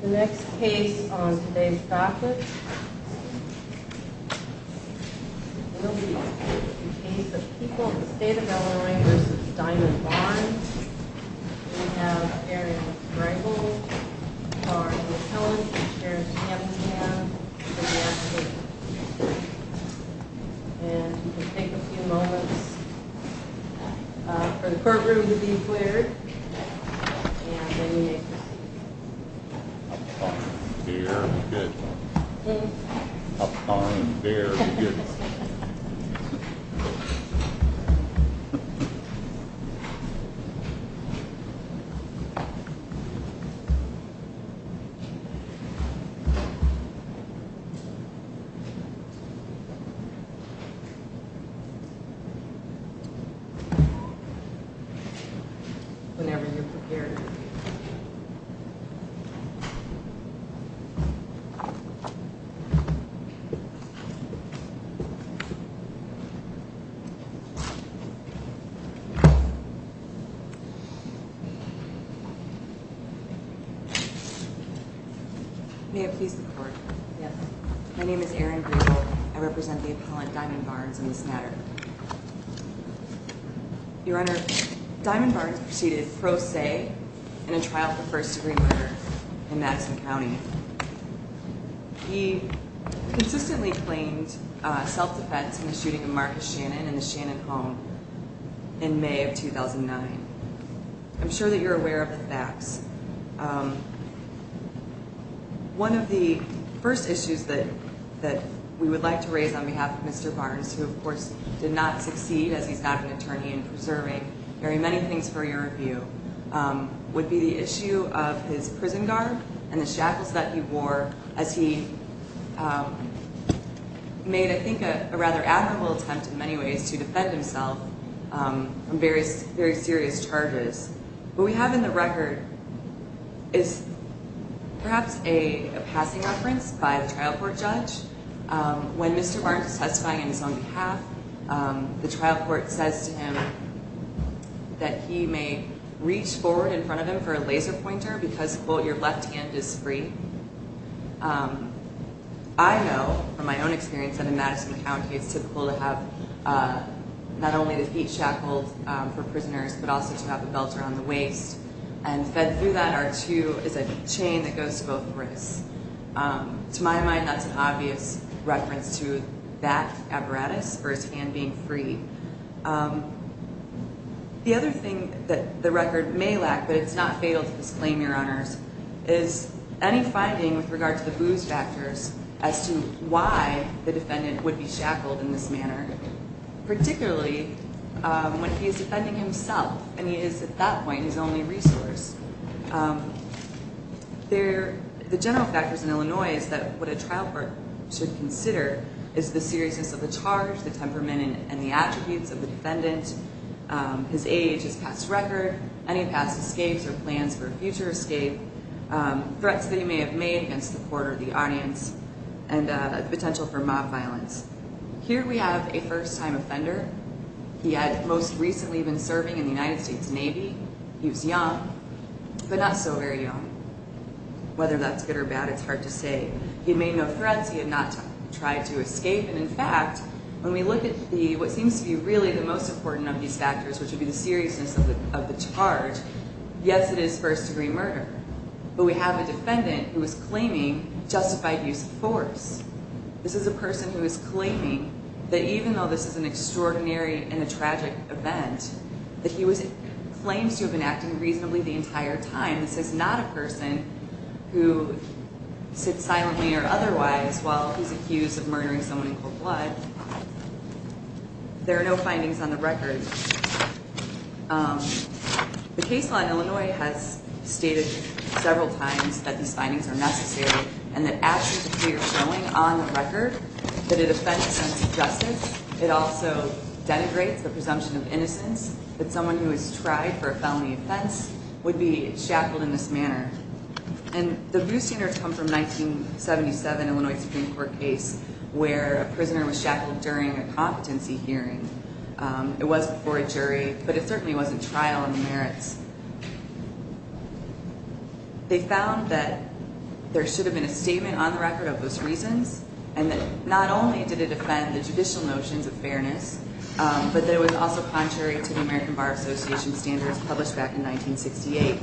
The next case on today's docket will be a case of people in the state of Illinois v. Diamond Barnes. We have a area with strangled, a car in the front, a chair in the back of the cab, and a man in the back seat. And you can take a few moments for the courtroom to be cleared, and then you may proceed. Up on your good. Up on your good. Whenever you're prepared. Up on your good. May it please the court. Yes. My name is Erin Griebel. I represent the appellant, Diamond Barnes, in this matter. Your Honor, Diamond Barnes proceeded pro se in a trial for first-degree murder in Madison County. He consistently claimed self-defense in the shooting of Marcus Shannon in the Shannon home in May of 2009. I'm sure that you're aware of the facts. One of the first issues that we would like to raise on behalf of Mr. Barnes, who, of course, did not succeed as he's not an attorney in preserving very many things for your review, would be the issue of his prison guard and the shackles that he wore as he made, I think, a rather admirable attempt in many ways to defend himself on various very serious charges. What we have in the record is perhaps a passing reference by the trial court judge. When Mr. Barnes is testifying on his own behalf, the trial court says to him that he may reach forward in front of him for a laser pointer because, quote, your left hand is free. I know from my own experience that in Madison County it's typical to have not only the heat shackles for prisoners but also to have the belts around the waist. And fed through that are two, is a chain that goes to both wrists. To my mind, that's an obvious reference to that apparatus for his hand being free. The other thing that the record may lack, but it's not fatal to disclaim, Your Honors, is any finding with regard to the booze factors as to why the defendant would be shackled in this manner. Particularly when he's defending himself and he is, at that point, his only resource. The general factors in Illinois is that what a trial court should consider is the seriousness of the charge, the temperament and the attributes of the defendant, his age, his past record, any past escapes or plans for a future escape, threats that he may have made against the court or the audience, and potential for mob violence. Here we have a first time offender. He had most recently been serving in the United States Navy. He was young, but not so very young. Whether that's good or bad, it's hard to say. He made no threats. He had not tried to escape. And in fact, when we look at what seems to be really the most important of these factors, which would be the seriousness of the charge, yes, it is first degree murder. But we have a defendant who is claiming justified use of force. This is a person who is claiming that even though this is an extraordinary and a tragic event, that he claims to have been acting reasonably the entire time. This is not a person who sits silently or otherwise while he's accused of murdering someone in cold blood. There are no findings on the record. The case law in Illinois has stated several times that these findings are necessary and that actions appear showing on the record that it offends sense of justice. It also denigrates the presumption of innocence that someone who has tried for a felony offense would be shackled in this manner. And the boosting comes from a 1977 Illinois Supreme Court case where a prisoner was shackled during a competency hearing. It was before a jury, but it certainly wasn't trial in the merits. They found that there should have been a statement on the record of those reasons and that not only did it offend the judicial notions of fairness, but that it was also contrary to the American Bar Association standards published back in 1968.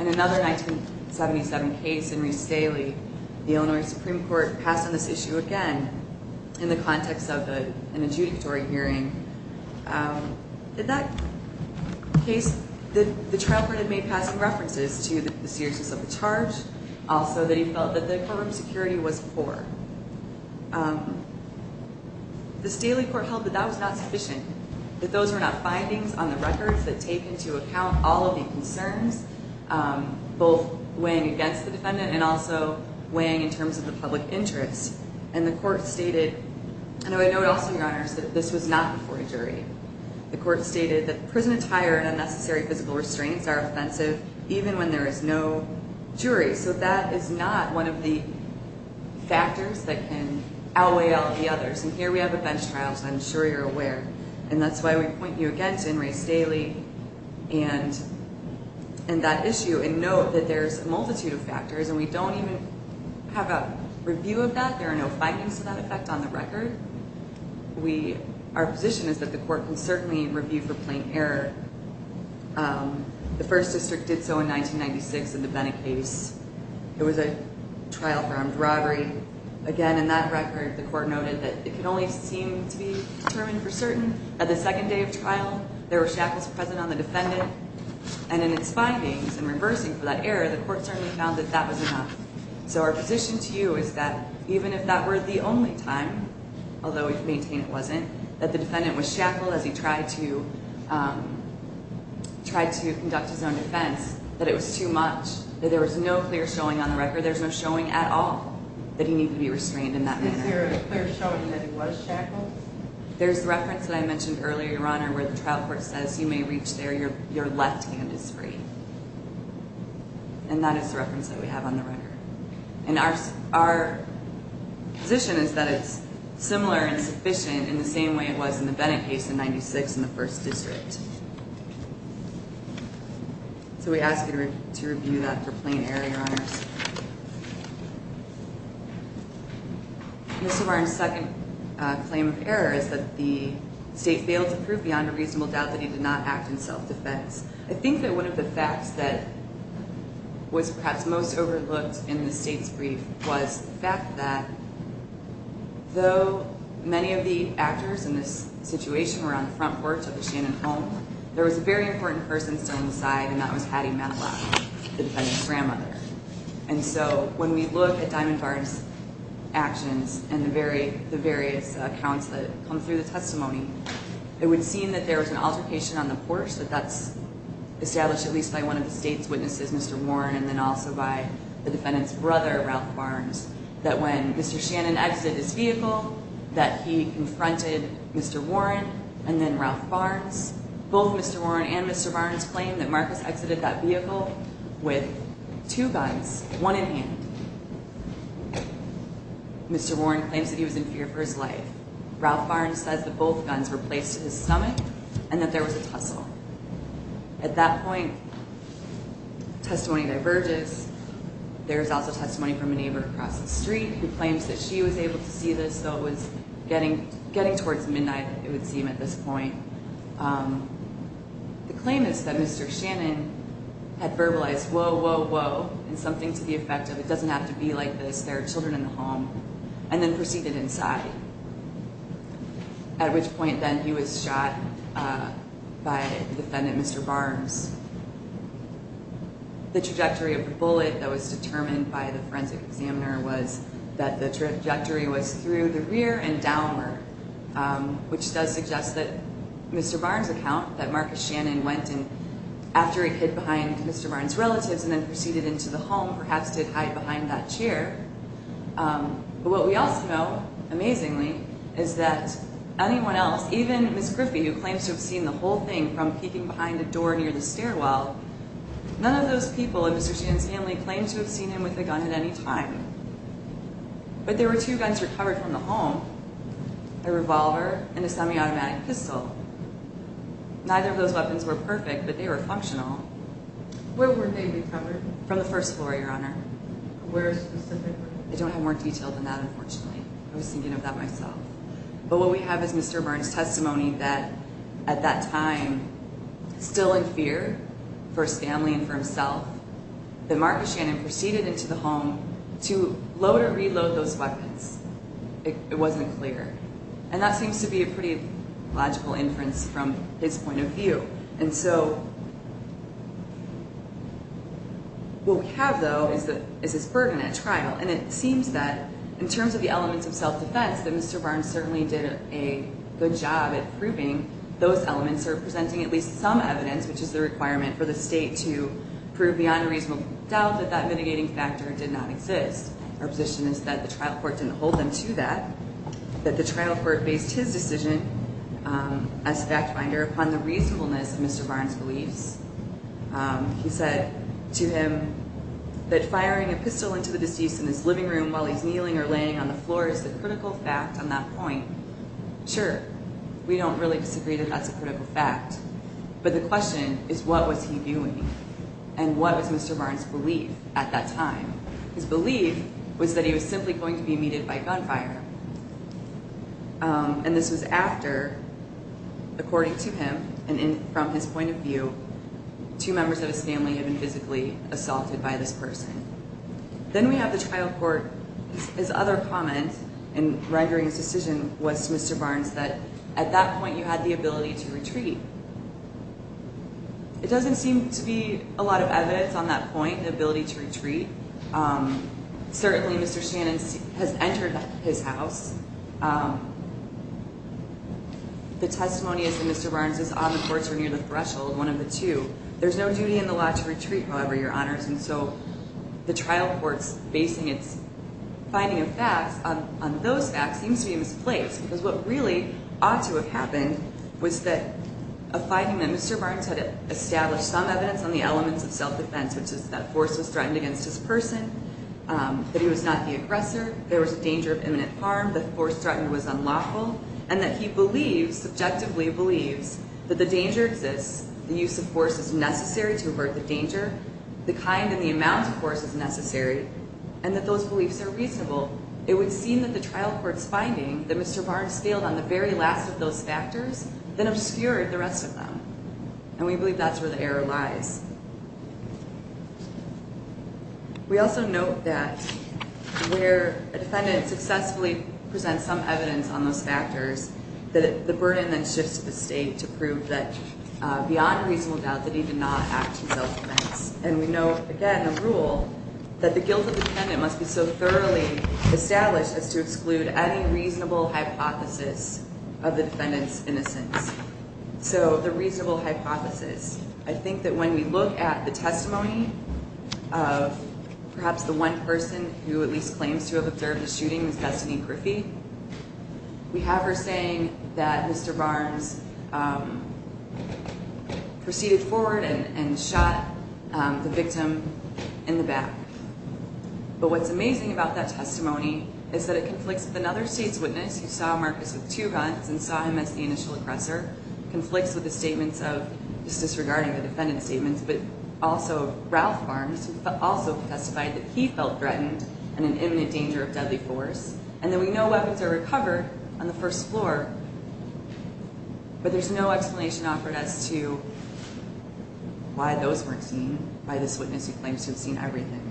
In another 1977 case, in Reese Daly, the Illinois Supreme Court passed on this issue again in the context of an adjudicatory hearing. In that case, the trial court had made passing references to the seriousness of the charge, also that he felt that the courtroom security was poor. This Daly court held that that was not sufficient, that those were not findings on the records that take into account all of the concerns, both weighing against the defendant and also weighing in terms of the public interest. And the court stated, and I would note also, Your Honors, that this was not before a jury. The court stated that prison attire and unnecessary physical restraints are offensive even when there is no jury. So that is not one of the factors that can outweigh all of the others. And here we have a bench trial, so I'm sure you're aware. And that's why we point you again to In Rees Daly and that issue and note that there's a multitude of factors, and we don't even have a review of that. There are no findings to that effect on the record. Our position is that the court can certainly review for plain error. The First District did so in 1996 in the Bennett case. It was a trial for armed robbery. Again, in that record, the court noted that it can only seem to be determined for certain that the second day of trial, there were shackles present on the defendant, and in its findings and reversing for that error, the court certainly found that that was enough. So our position to you is that even if that were the only time, although we maintain it wasn't, that the defendant was shackled as he tried to conduct his own defense, that it was too much, that there was no clear showing on the record. There's no showing at all that he needed to be restrained in that manner. Is there a clear showing that he was shackled? There's the reference that I mentioned earlier, Your Honor, where the trial court says, you may reach there, your left hand is free. And that is the reference that we have on the record. And our position is that it's similar and sufficient in the same way it was in the Bennett case in 1996 in the First District. So we ask you to review that for plain error, Your Honors. Mr. Barnes' second claim of error is that the state failed to prove beyond a reasonable doubt that he did not act in self-defense. I think that one of the facts that was perhaps most overlooked in the state's brief was the fact that though many of the actors in this situation were on the front porch of the Shannon home, there was a very important person still on the side, and that was Hattie Manteloff, the defendant's grandmother. And so when we look at Diamond Barnes' actions and the various accounts that come through the testimony, it would seem that there was an altercation on the porch, that that's established at least by one of the state's witnesses, Mr. Warren, and then also by the defendant's brother, Ralph Barnes, that when Mr. Shannon exited his vehicle, that he confronted Mr. Warren and then Ralph Barnes. Both Mr. Warren and Mr. Barnes claim that Marcus exited that vehicle with two guns, one in hand. Mr. Warren claims that he was in fear for his life. Ralph Barnes says that both guns were placed to his stomach and that there was a tussle. At that point, testimony diverges. There is also testimony from a neighbor across the street who claims that she was able to see this, though it was getting towards midnight that they would see him at this point. The claim is that Mr. Shannon had verbalized, and something to the effect of it doesn't have to be like this, there are children in the home, and then proceeded inside, at which point then he was shot by the defendant, Mr. Barnes. The trajectory of the bullet that was determined by the forensic examiner was that the trajectory was through the rear and downward, which does suggest that Mr. Barnes' account, that Marcus Shannon went in after he hid behind Mr. Barnes' relatives and then proceeded into the home, perhaps did hide behind that chair. But what we also know, amazingly, is that anyone else, even Ms. Griffey, who claims to have seen the whole thing from peeking behind a door near the stairwell, none of those people in Mr. Shannon's family claimed to have seen him with a gun at any time. But there were two guns recovered from the home, a revolver and a semi-automatic pistol. Neither of those weapons were perfect, but they were functional. From the first floor, Your Honor. I don't have more detail than that, unfortunately. I was thinking of that myself. But what we have is Mr. Barnes' testimony that at that time, still in fear for his family and for himself, that Marcus Shannon proceeded into the home to load or reload those weapons. It wasn't clear. And that seems to be a pretty logical inference from his point of view. And so what we have, though, is this burden at trial. And it seems that, in terms of the elements of self-defense, that Mr. Barnes certainly did a good job at proving those elements or presenting at least some evidence, which is the requirement for the state to prove beyond a reasonable doubt that that mitigating factor did not exist. Our position is that the trial court didn't hold them to that, that the trial court based his decision as fact-finder upon the reasonableness of Mr. Barnes' beliefs. He said to him that firing a pistol into the deceased in his living room while he's kneeling or laying on the floor is the critical fact on that point. Sure, we don't really disagree that that's a critical fact. But the question is, what was he doing? And what was Mr. Barnes' belief at that time? His belief was that he was simply going to be meted by gunfire. And this was after, according to him and from his point of view, two members of his family had been physically assaulted by this person. Then we have the trial court. His other comment in rendering his decision was to Mr. Barnes that, at that point, you had the ability to retreat. It doesn't seem to be a lot of evidence on that point, the ability to retreat. Certainly, Mr. Shannon has entered his house. The testimony of Mr. Barnes is on the courts or near the threshold, one of the two. There's no duty in the law to retreat, however, Your Honors, and so the trial court's basing its finding of facts on those facts seems to be misplaced because what really ought to have happened was that a finding that Mr. Barnes had established some evidence on the elements of self-defense, which is that force was threatened against his person, that he was not the aggressor, there was a danger of imminent harm, that force threatened was unlawful, and that he believes, subjectively believes, that the danger exists, the use of force is necessary to avert the danger, the kind and the amount of force is necessary, and that those beliefs are reasonable. It would seem that the trial court's finding that Mr. Barnes scaled on the very last of those factors then obscured the rest of them, and we believe that's where the error lies. We also note that where a defendant successfully presents some evidence on those factors, that the burden then shifts to the state to prove that beyond reasonable doubt that he did not act in self-defense, and we know, again, a rule, that the guilt of the defendant must be so thoroughly established as to exclude any reasonable hypothesis of the defendant's innocence. So, the reasonable hypothesis, I think that when we look at the testimony of perhaps the one person who at least claims to have observed the shooting, that's Denise Griffey, we have her saying that Mr. Barnes proceeded forward and shot the victim in the back. But what's amazing about that testimony is that it conflicts with another state's witness who saw Marcus with two guns and saw him as the initial oppressor, conflicts with the statements of, just disregarding the defendant's statements, but also Ralph Barnes also testified that he felt threatened and in imminent danger of deadly force, and then we know weapons are recovered on the first floor, but there's no explanation offered as to why those weren't seen by this witness who claims to have seen everything.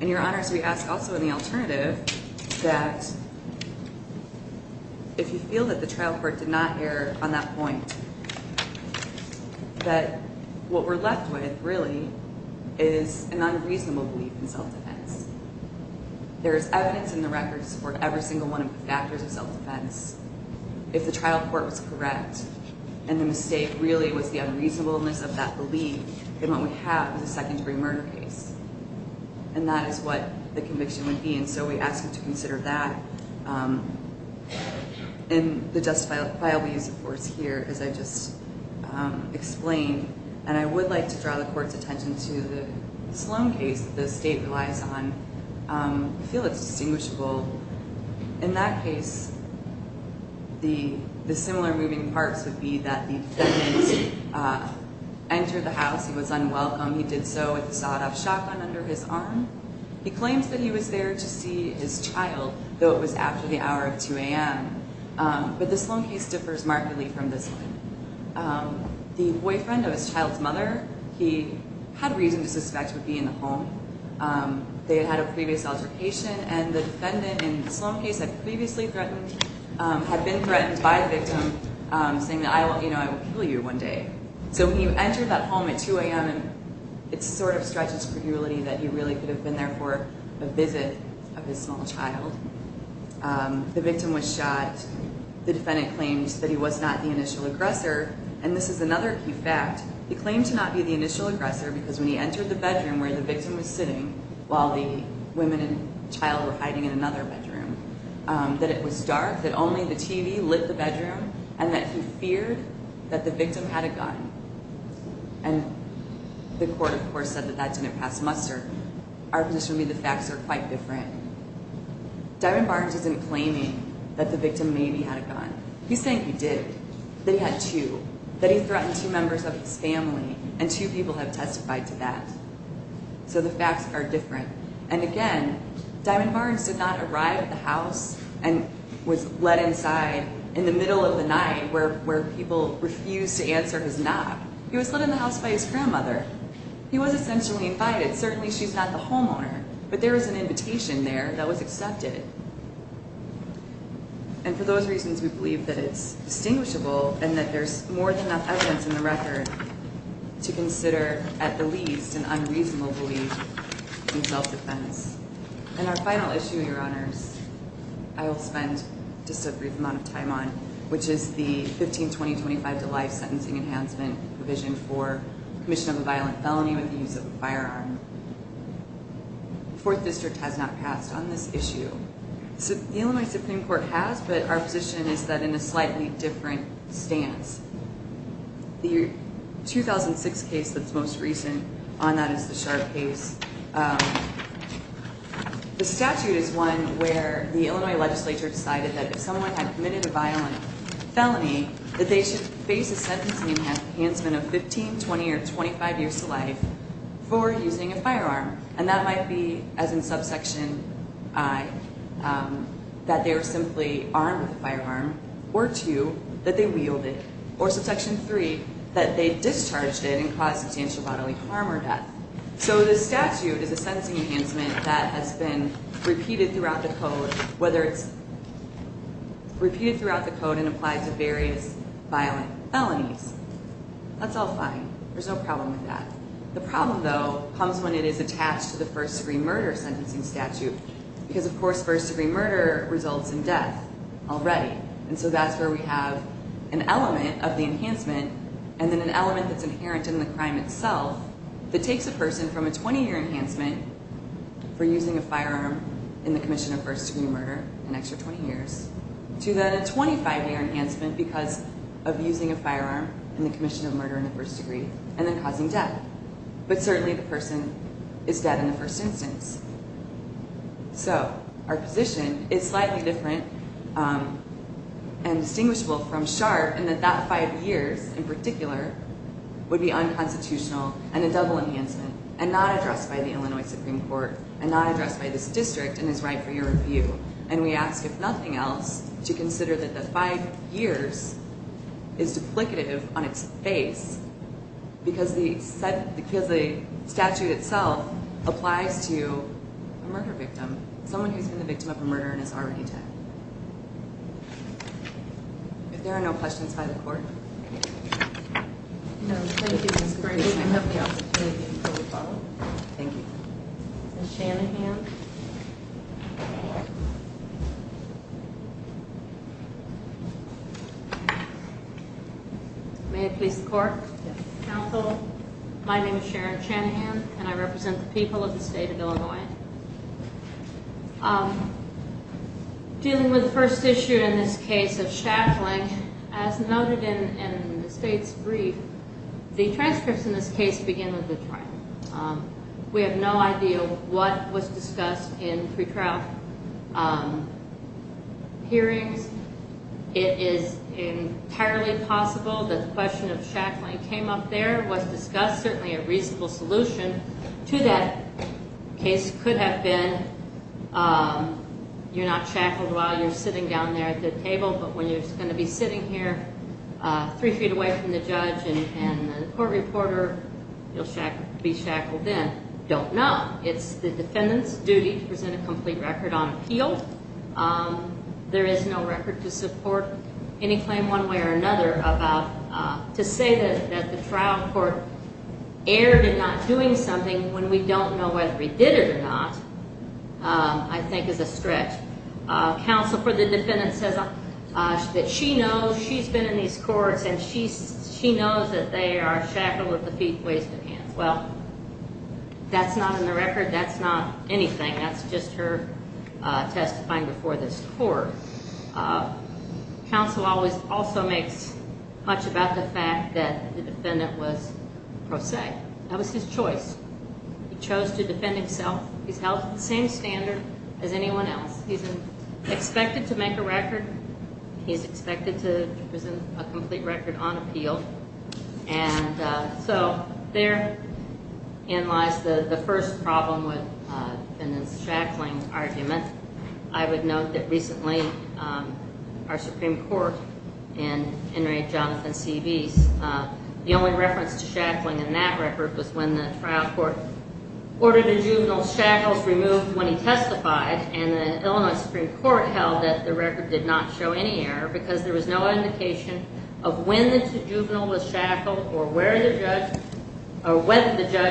And, Your Honors, we ask also in the alternative that if you feel that the trial court did not err on that point, that what we're left with, really, is an unreasonable belief in self-defense. There is evidence in the records to support every single one of the factors of self-defense. If the trial court was correct, and the mistake really was the unreasonableness of that belief, then what we have is a second-degree murder case. And that is what the conviction would be, and so we ask you to consider that in the justifiable use of force here, as I just explained. And I would like to draw the Court's attention to the Sloan case that the State relies on. I feel it's distinguishable. In that case, the similar moving parts would be that the defendant entered the house, he was unwelcome, he did so with a sawed-off shotgun under his arm. He claims that he was there to see his child, though it was after the hour of 2 a.m. But the Sloan case differs markedly from this one. The boyfriend of his child's mother, he had reason to suspect, would be in the home. They had a previous altercation, and the defendant in the Sloan case had been threatened by the victim, saying that, you know, I will kill you one day. So when he entered that home at 2 a.m., it sort of stretches to the reality that he really could have been there for a visit of his small child. The victim was shot. The defendant claims that he was not the initial aggressor. And this is another key fact. He claimed to not be the initial aggressor because when he entered the bedroom where the victim was sitting while the woman and child were hiding in another bedroom, that it was dark, that only the TV lit the bedroom, and that he feared that the victim had a gun. And the court, of course, said that that didn't pass muster. Our position would be the facts are quite different. Diamond Barnes isn't claiming that the victim maybe had a gun. He's saying he did. That he had two. That he threatened two members of his family. And two people have testified to that. So the facts are different. And again, Diamond Barnes did not arrive at the house and was let inside in the middle of the night where people refused to answer his knock. He was let in the house by his grandmother. He was essentially invited. Certainly she's not the homeowner. But there was an invitation there that was accepted. And for those reasons, we believe that it's distinguishable and that there's more than enough evidence in the record to consider, at the least, an unreasonable belief in self-defense. And our final issue, Your Honors, I will spend just a brief amount of time on, which is the 15-20-25 Delight Sentencing Enhancement provision for commission of a violent felony with the use of a firearm. The Fourth District has not passed on this issue. The Illinois Supreme Court has, but our position is that we're in a slightly different stance. The 2006 case that's most recent on that is the Sharp case. The statute is one where the Illinois legislature decided that if someone had committed a violent felony, that they should face a sentencing enhancement of 15, 20, or 25 years to life for using a firearm. And that might be, as in subsection I, that they were simply armed with a firearm or two, that they wielded, or subsection III, that they discharged it and caused substantial bodily harm or death. So this statute is a sentencing enhancement that has been repeated throughout the Code, whether it's repeated throughout the Code and applied to various violent felonies. That's all fine. There's no problem with that. The problem, though, comes when it is attached to the first-degree murder sentencing statute, because, of course, first-degree murder results in death already. And so that's where we have an element of the enhancement and then an element that's inherent in the crime itself that takes a person from a 20-year enhancement for using a firearm in the commission of first-degree murder, an extra 20 years, to then a 25-year enhancement because of using a firearm in the commission of murder in the first degree and then causing death. But certainly the person is dead in the first instance. So our position is slightly different and distinguishable from SHARP in that that five years in particular would be unconstitutional and a double enhancement and not addressed by the Illinois Supreme Court and not addressed by this district and is right for your review. And we ask, if nothing else, to consider that the five years is duplicative on its face because the statute itself applies to a murder victim, someone who's been the victim of a murder and is already dead. Thank you. If there are no questions, I'll call the court. No, thank you, Ms. Brady. If there's nothing else, I'll call the court. Thank you. Ms. Shanahan. May I please the court? Yes. Counsel, my name is Sharon Shanahan and I represent the people of the state of Illinois. Thank you for your time. Dealing with the first issue in this case of shackling, as noted in the state's brief, the transcripts in this case begin with the trial. We have no idea what was discussed in pre-trial hearings. It is entirely possible that the question of shackling came up there, was discussed, certainly a reasonable solution to that case could have been you're not shackled while you're sitting down there at the table, but when you're going to be sitting here three feet away from the judge and the court reporter, you'll be shackled in. Don't know. It's the defendant's duty to present a complete record on appeal. There is no record to support any claim one way or another about to say that the trial court erred in not doing something when we don't know whether we did it or not, I think is a stretch. Counsel for the defendant says that she knows, she's been in these courts and she knows that they are shackled with the feet, waist and hands. Well, that's not in the record. That's not anything. That's just her testifying before this court. Counsel always also makes much about the fact that the defendant was pro se. That was his choice. He chose to defend himself. He's held to the same standard as anyone else. He's expected to make a record. He's expected to present a complete record on appeal. And so therein lies the first problem with defendant's shackling argument. I would note that recently our Supreme Court in Henry Jonathan C. Beese, the only reference to shackling in that record was when the trial court ordered the juvenile shackles removed when he testified and the Illinois Supreme Court held that the record did not show any error because there was no indication of when the juvenile was shackled or whether the judge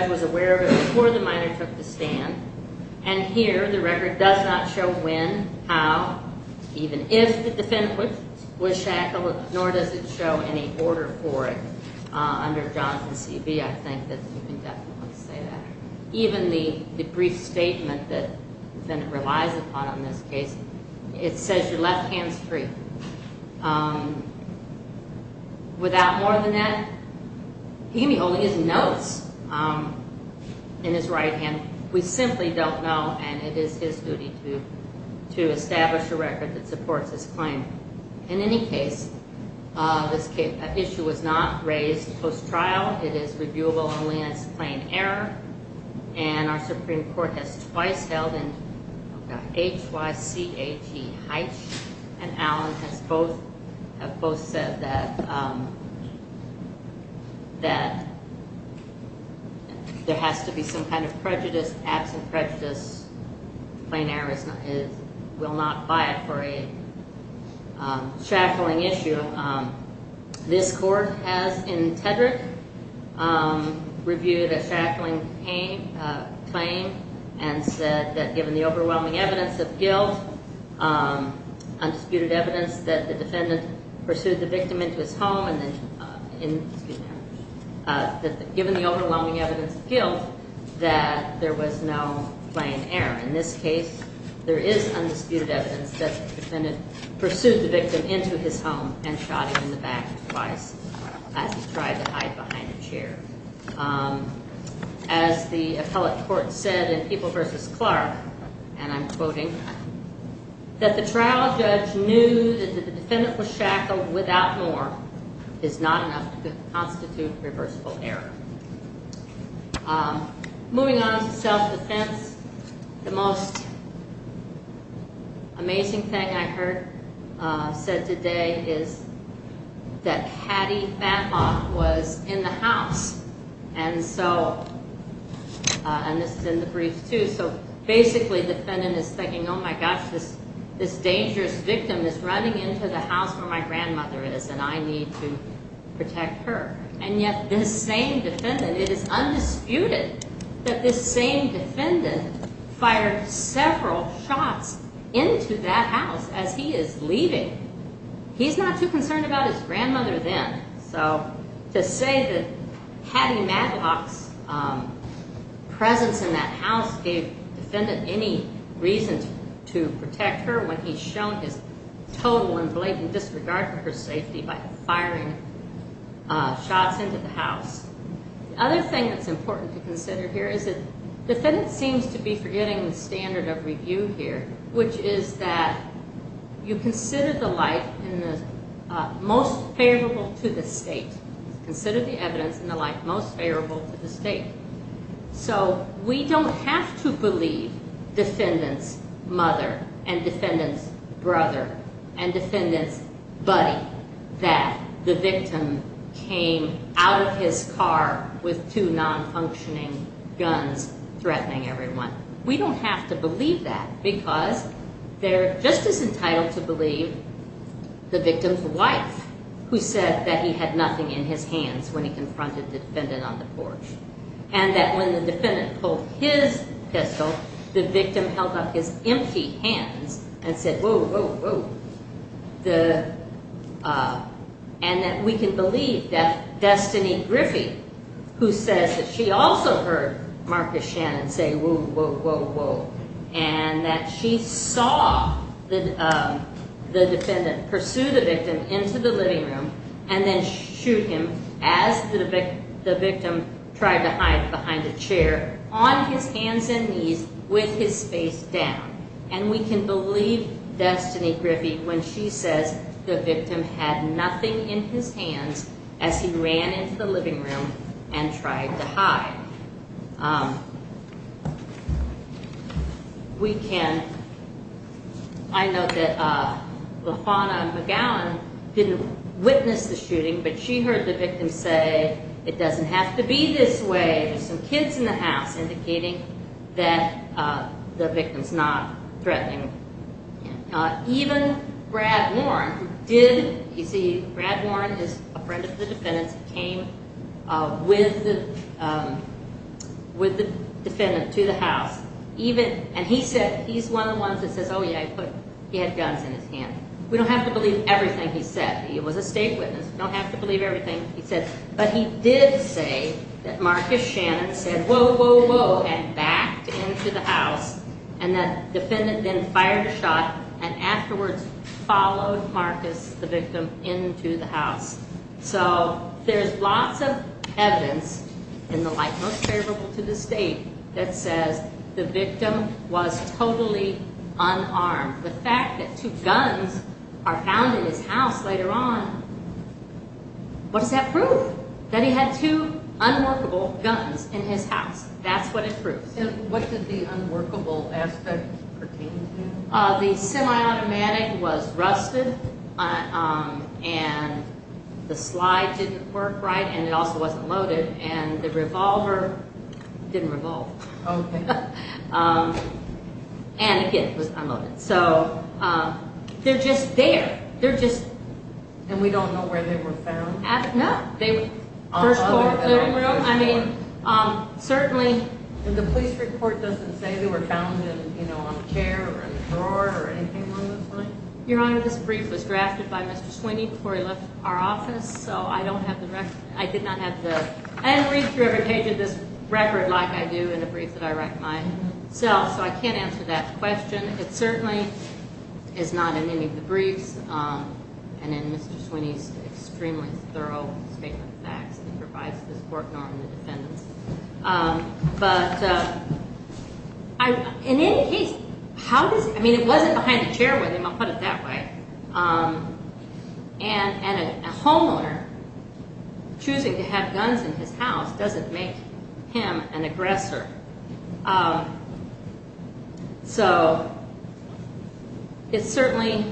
was aware of it before the minor took the stand. And here the record does not show when, how, even if the defendant was shackled, nor does it show any order for it under Jonathan C. Beese. I think that you can definitely say that. Even the brief statement that the defendant relies upon in this case, it says your left hand's free. Without more than that, he can be holding his notes in his right hand. We simply don't know. And it is his duty to establish a record that supports his claim. In any case, this issue was not raised post-trial. It is reviewable only as plain error. And our Supreme Court has twice held, and H-Y-C-H-E Heitsch and Allen have both said that there has to be some kind of prejudice, absent prejudice. Plain error will not buy it for a shackling issue. This court has, in Tedrick, reviewed a shackling claim and said that given the overwhelming evidence of guilt, undisputed evidence that the defendant pursued the victim into his home, excuse me, that given the overlonging evidence of guilt, that there was no plain error. In this case, there is undisputed evidence that the defendant pursued the victim into his home and shot him in the back twice as he tried to hide behind a chair. As the appellate court said in People v. Clark, and I'm quoting, that the trial judge knew that the defendant was shackled without more is not enough to constitute reversible error. Moving on to self-defense, the most amazing thing I heard said today is that Patty Fatlock was in the house. And so, and this is in the brief too, so basically the defendant is thinking, oh my gosh, this dangerous victim is running into the house where my grandmother is and I need to protect her. And yet this same defendant, it is undisputed that this same defendant fired several shots into that house as he is leaving. He's not too concerned about his grandmother then. So to say that Patty Fatlock's presence in that house gave the defendant any reason to protect her when he's shown his total and blatant disregard by firing shots into the house. The other thing that's important to consider here is that the defendant seems to be forgetting the standard of review here, which is that you consider the life in the most favorable to the state. Consider the evidence in the life most favorable to the state. So we don't have to believe defendant's mother and defendant's brother and defendant's buddy that the victim came out of his car with two non-functioning guns threatening everyone. We don't have to believe that because they're just as entitled to believe the victim's wife, who said that he had nothing in his hands when he confronted the defendant on the porch. And that when the defendant pulled his pistol, the victim held up his empty hands and said, whoa, whoa, whoa. And that we can believe that Destiny Griffey, who says that she also heard Marcus Shannon say, whoa, whoa, whoa, whoa. And that she saw the defendant pursue the victim into the living room and then shoot him as the victim tried to hide behind a chair on his hands and knees with his face down. And we can believe Destiny Griffey when she says the victim had nothing in his hands as he ran into the living room and tried to hide. We can, I know that LaFawna McGowan didn't witness the shooting, but she heard the victim say, it doesn't have to be this way. There's some kids in the house indicating that the victim's not threatening him. Even Brad Warren did, you see Brad Warren is a friend of the defendant's, came with the defendant to the house. And he said, he's one of the ones that says, oh yeah, he had guns in his hand. We don't have to believe everything he said. He was a state witness. We don't have to believe everything he said. But he did say that Marcus Shannon said, And that defendant then fired a shot and afterwards followed Marcus, the victim, into the house. So there's lots of evidence in the light most favorable to the state that says the victim was totally unarmed. The fact that two guns are found in his house later on, what does that prove? That he had two unworkable guns in his house. That's what it proves. And what did the unworkable aspect pertain to? The automatic was rusted. And the slide didn't work right. And it also wasn't loaded. And the revolver didn't revolve. And again, it was unloaded. So they're just there. They're just... And we don't know where they were found? No. First floor living room. I mean, certainly... The police report doesn't say they were found on a chair or in a drawer or anything along those lines? Your Honor, this brief was drafted by Mr. Sweeney before he left our office. So I don't have the record. I didn't read through every page of this record like I do in a brief that I write myself. So I can't answer that question. It certainly is not in any of the briefs and in Mr. Sweeney's extremely thorough statement of facts that provides this court norm to defendants. But in any case, how does... I mean, it wasn't behind a chair with him. I'll put it that way. And a homeowner choosing to have guns in his house doesn't make him an aggressor. So it's certainly,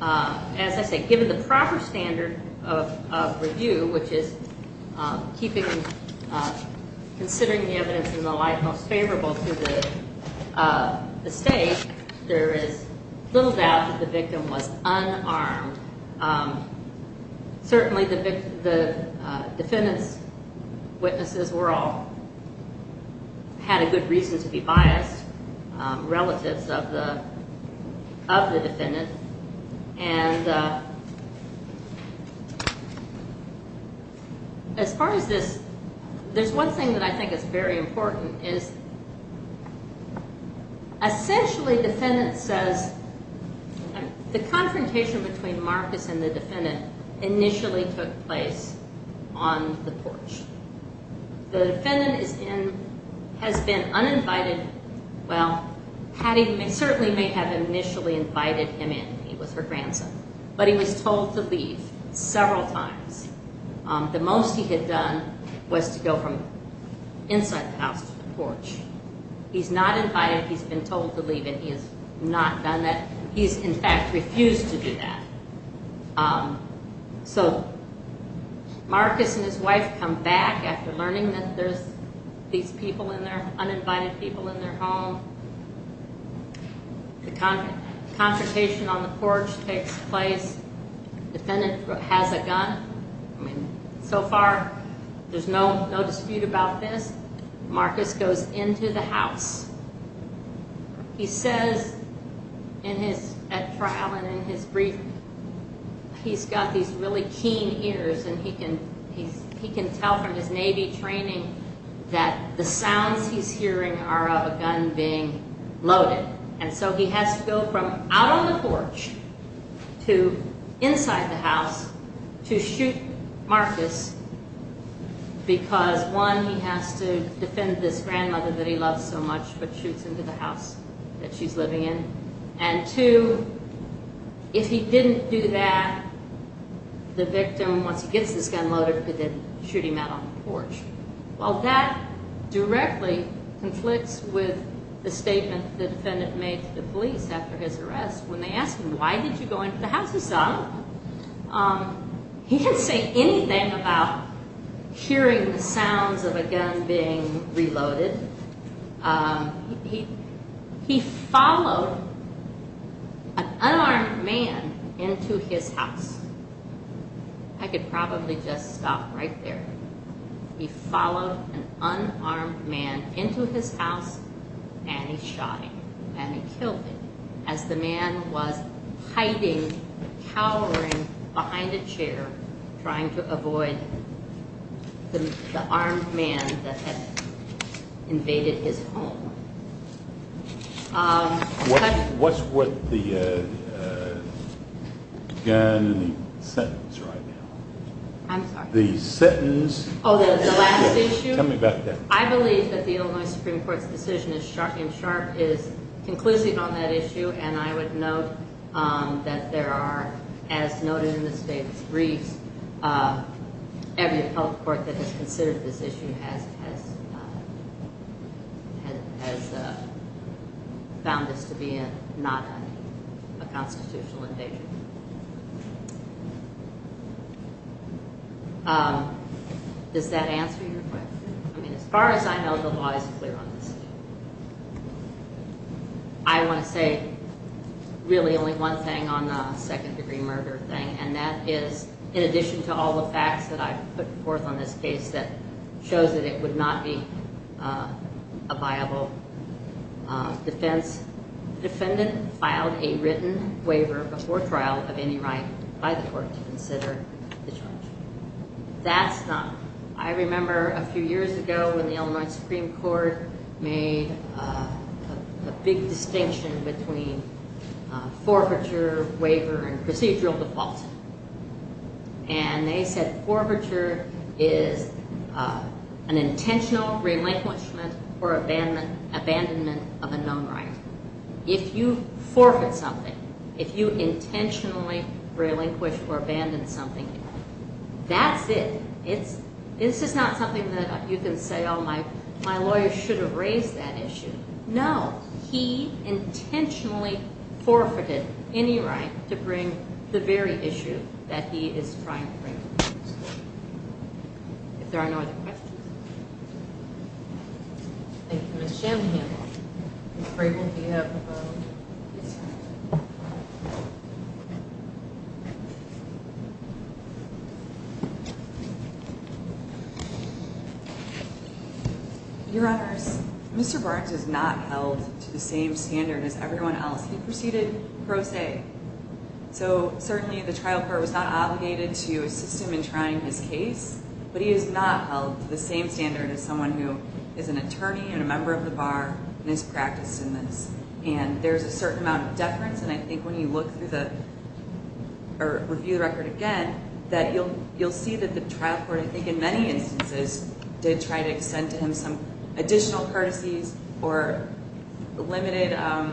as I say, given the proper standard of review, which is considering the evidence in the light most favorable to the state, there is little doubt that the victim was unarmed. Certainly the defendant's witnesses all had a good reason to be biased, relatives of the defendant. And as far as this, there's one thing that I think is very important, is essentially, defendant says, the confrontation between Marcus and the defendant initially took place on the porch. The defendant has been uninvited. Well, Patty certainly may have initially invited him in. He was her grandson. But he was told to leave several times. The most he had done was to go from inside the house to the porch. He's not invited. He's been told to leave, and he has not done that. He's, in fact, refused to do that. So Marcus and his wife come back after learning that there's these people in there, uninvited people in their home. The confrontation on the porch takes place. The defendant has a gun. So far, there's no dispute about this. Marcus goes into the house. He says at trial and in his brief, he's got these really keen ears, and he can tell from his Navy training that the sounds he's hearing are of a gun being fired. A gun being loaded. And so he has to go from out on the porch to inside the house to shoot Marcus because, one, he has to defend this grandmother that he loves so much, but shoots into the house that she's living in. And, two, if he didn't do that, the victim, once he gets this gun loaded, could then shoot him out on the porch. Well, that directly conflicts with the statement the defendant made to the police after his arrest when they asked him, why did you go into the house yourself? He didn't say anything about hearing the sounds of a gun being reloaded. He followed an unarmed man into his house. I could probably just stop right there. He followed an unarmed man into his house, and he shot him. And he killed him as the man was hiding, cowering behind a chair, trying to avoid the armed man that had invaded his home. What's with the gun sentence right now? I'm sorry? Oh, the last issue? I believe that the Illinois Supreme Court's decision in Sharp is conclusive on that issue, and I would note that there are, as noted in the state's briefs, every health court that has considered this issue has found this to be not a constitutional invasion. Does that answer your question? I mean, as far as I know, the law is clear on this. I want to say really only one thing on the second-degree murder thing, and that is in addition to all the facts that I've put forth on this case that shows that it would not be a viable defense, the defendant filed a written waiver before trial of any right by the court to consider the charge. That's not, I remember a few years ago when the Illinois Supreme Court made a big distinction between forfeiture, waiver, and procedural default. And they said forfeiture is an intentional relinquishment or abandonment of a known right. If you forfeit something, if you intentionally relinquish or abandon something, that's it. This is not something that you can say, oh, my lawyer should have raised that issue. No, he intentionally forfeited any right to bring the very issue that he is trying to bring. If there are no other questions. Thank you. Ms. Shanley-Hammond, I'm afraid we'll be up about this time. Your Honors, Mr. Barnes is not held to the same standard as everyone else. He proceeded pro se. So certainly the trial court was not obligated to assist him in trying his case, but he is not held to the same standard as someone who is an attorney and a member of the bar and has practiced in this. And there's a certain amount of deference, and I think when you look through the, or review the record again, that you'll see that the trial court, I think in many instances, did try to extend to him some additional courtesies or limited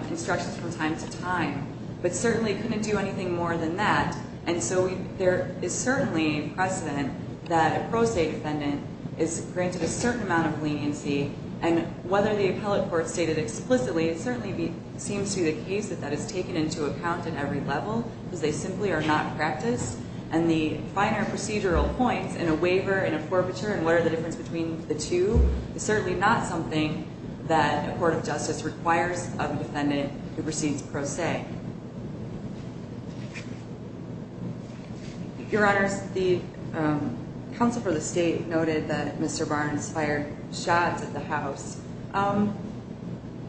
instructions from time to time, but certainly couldn't do anything more than that. And so there is certainly precedent that a pro se defendant is granted a certain amount of leniency, and whether the appellate court stated explicitly, it certainly seems to be the case that that is taken into account at every level, because they simply are not practiced. And the finer procedural points in a waiver and a forfeiture and what are the difference between the two is certainly not something that a court of justice requires of a defendant who proceeds pro se. Your Honors, the counsel for the state noted that Mr. Barnes fired shots at the house.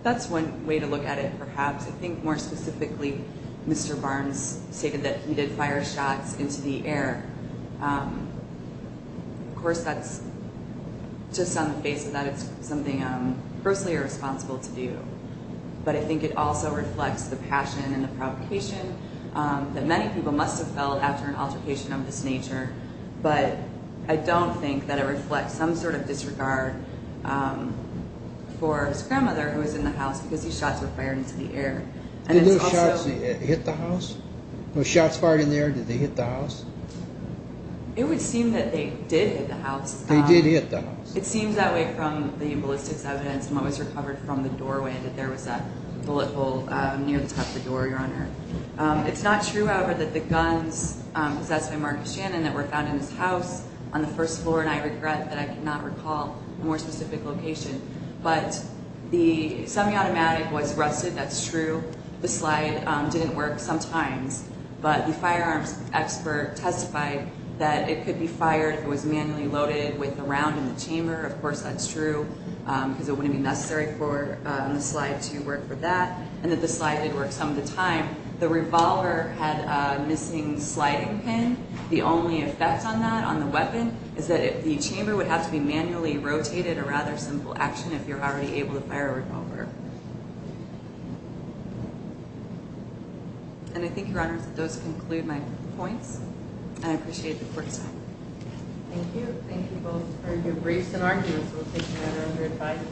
That's one way to look at it, perhaps. I think more specifically, Mr. Barnes stated that he did fire shots into the air. Of course, that's just on the face of that. It's something I'm personally responsible to do. But I think it also reflects the passion and the provocation that many people must have felt after an altercation of this nature. But I don't think that it reflects some sort of disregard for his grandmother, who was in the house, because these shots were fired into the air. Did those shots hit the house? Were shots fired in the air? Did they hit the house? It would seem that they did hit the house. They did hit the house. It seems that way from the ballistics evidence and what was recovered from the doorway that there was a bullet hole near the top of the door, Your Honor. It's not true, however, that bullets were found in this house on the first floor, and I regret that I cannot recall a more specific location. But the semi-automatic was rusted. That's true. The slide didn't work sometimes. But the firearms expert testified that it could be fired if it was manually loaded with a round in the chamber. Of course, that's true, because it wouldn't be necessary for the slide to work for that, and that the slide did work some of the time. But one of the effects on that, on the weapon, is that the chamber would have to be manually rotated, a rather simple action, if you're already able to fire a revolver. And I think, Your Honor, that those conclude my points, and I appreciate the court's time. Thank you. Thank you both for your briefs and arguments. We'll take your order under advisory.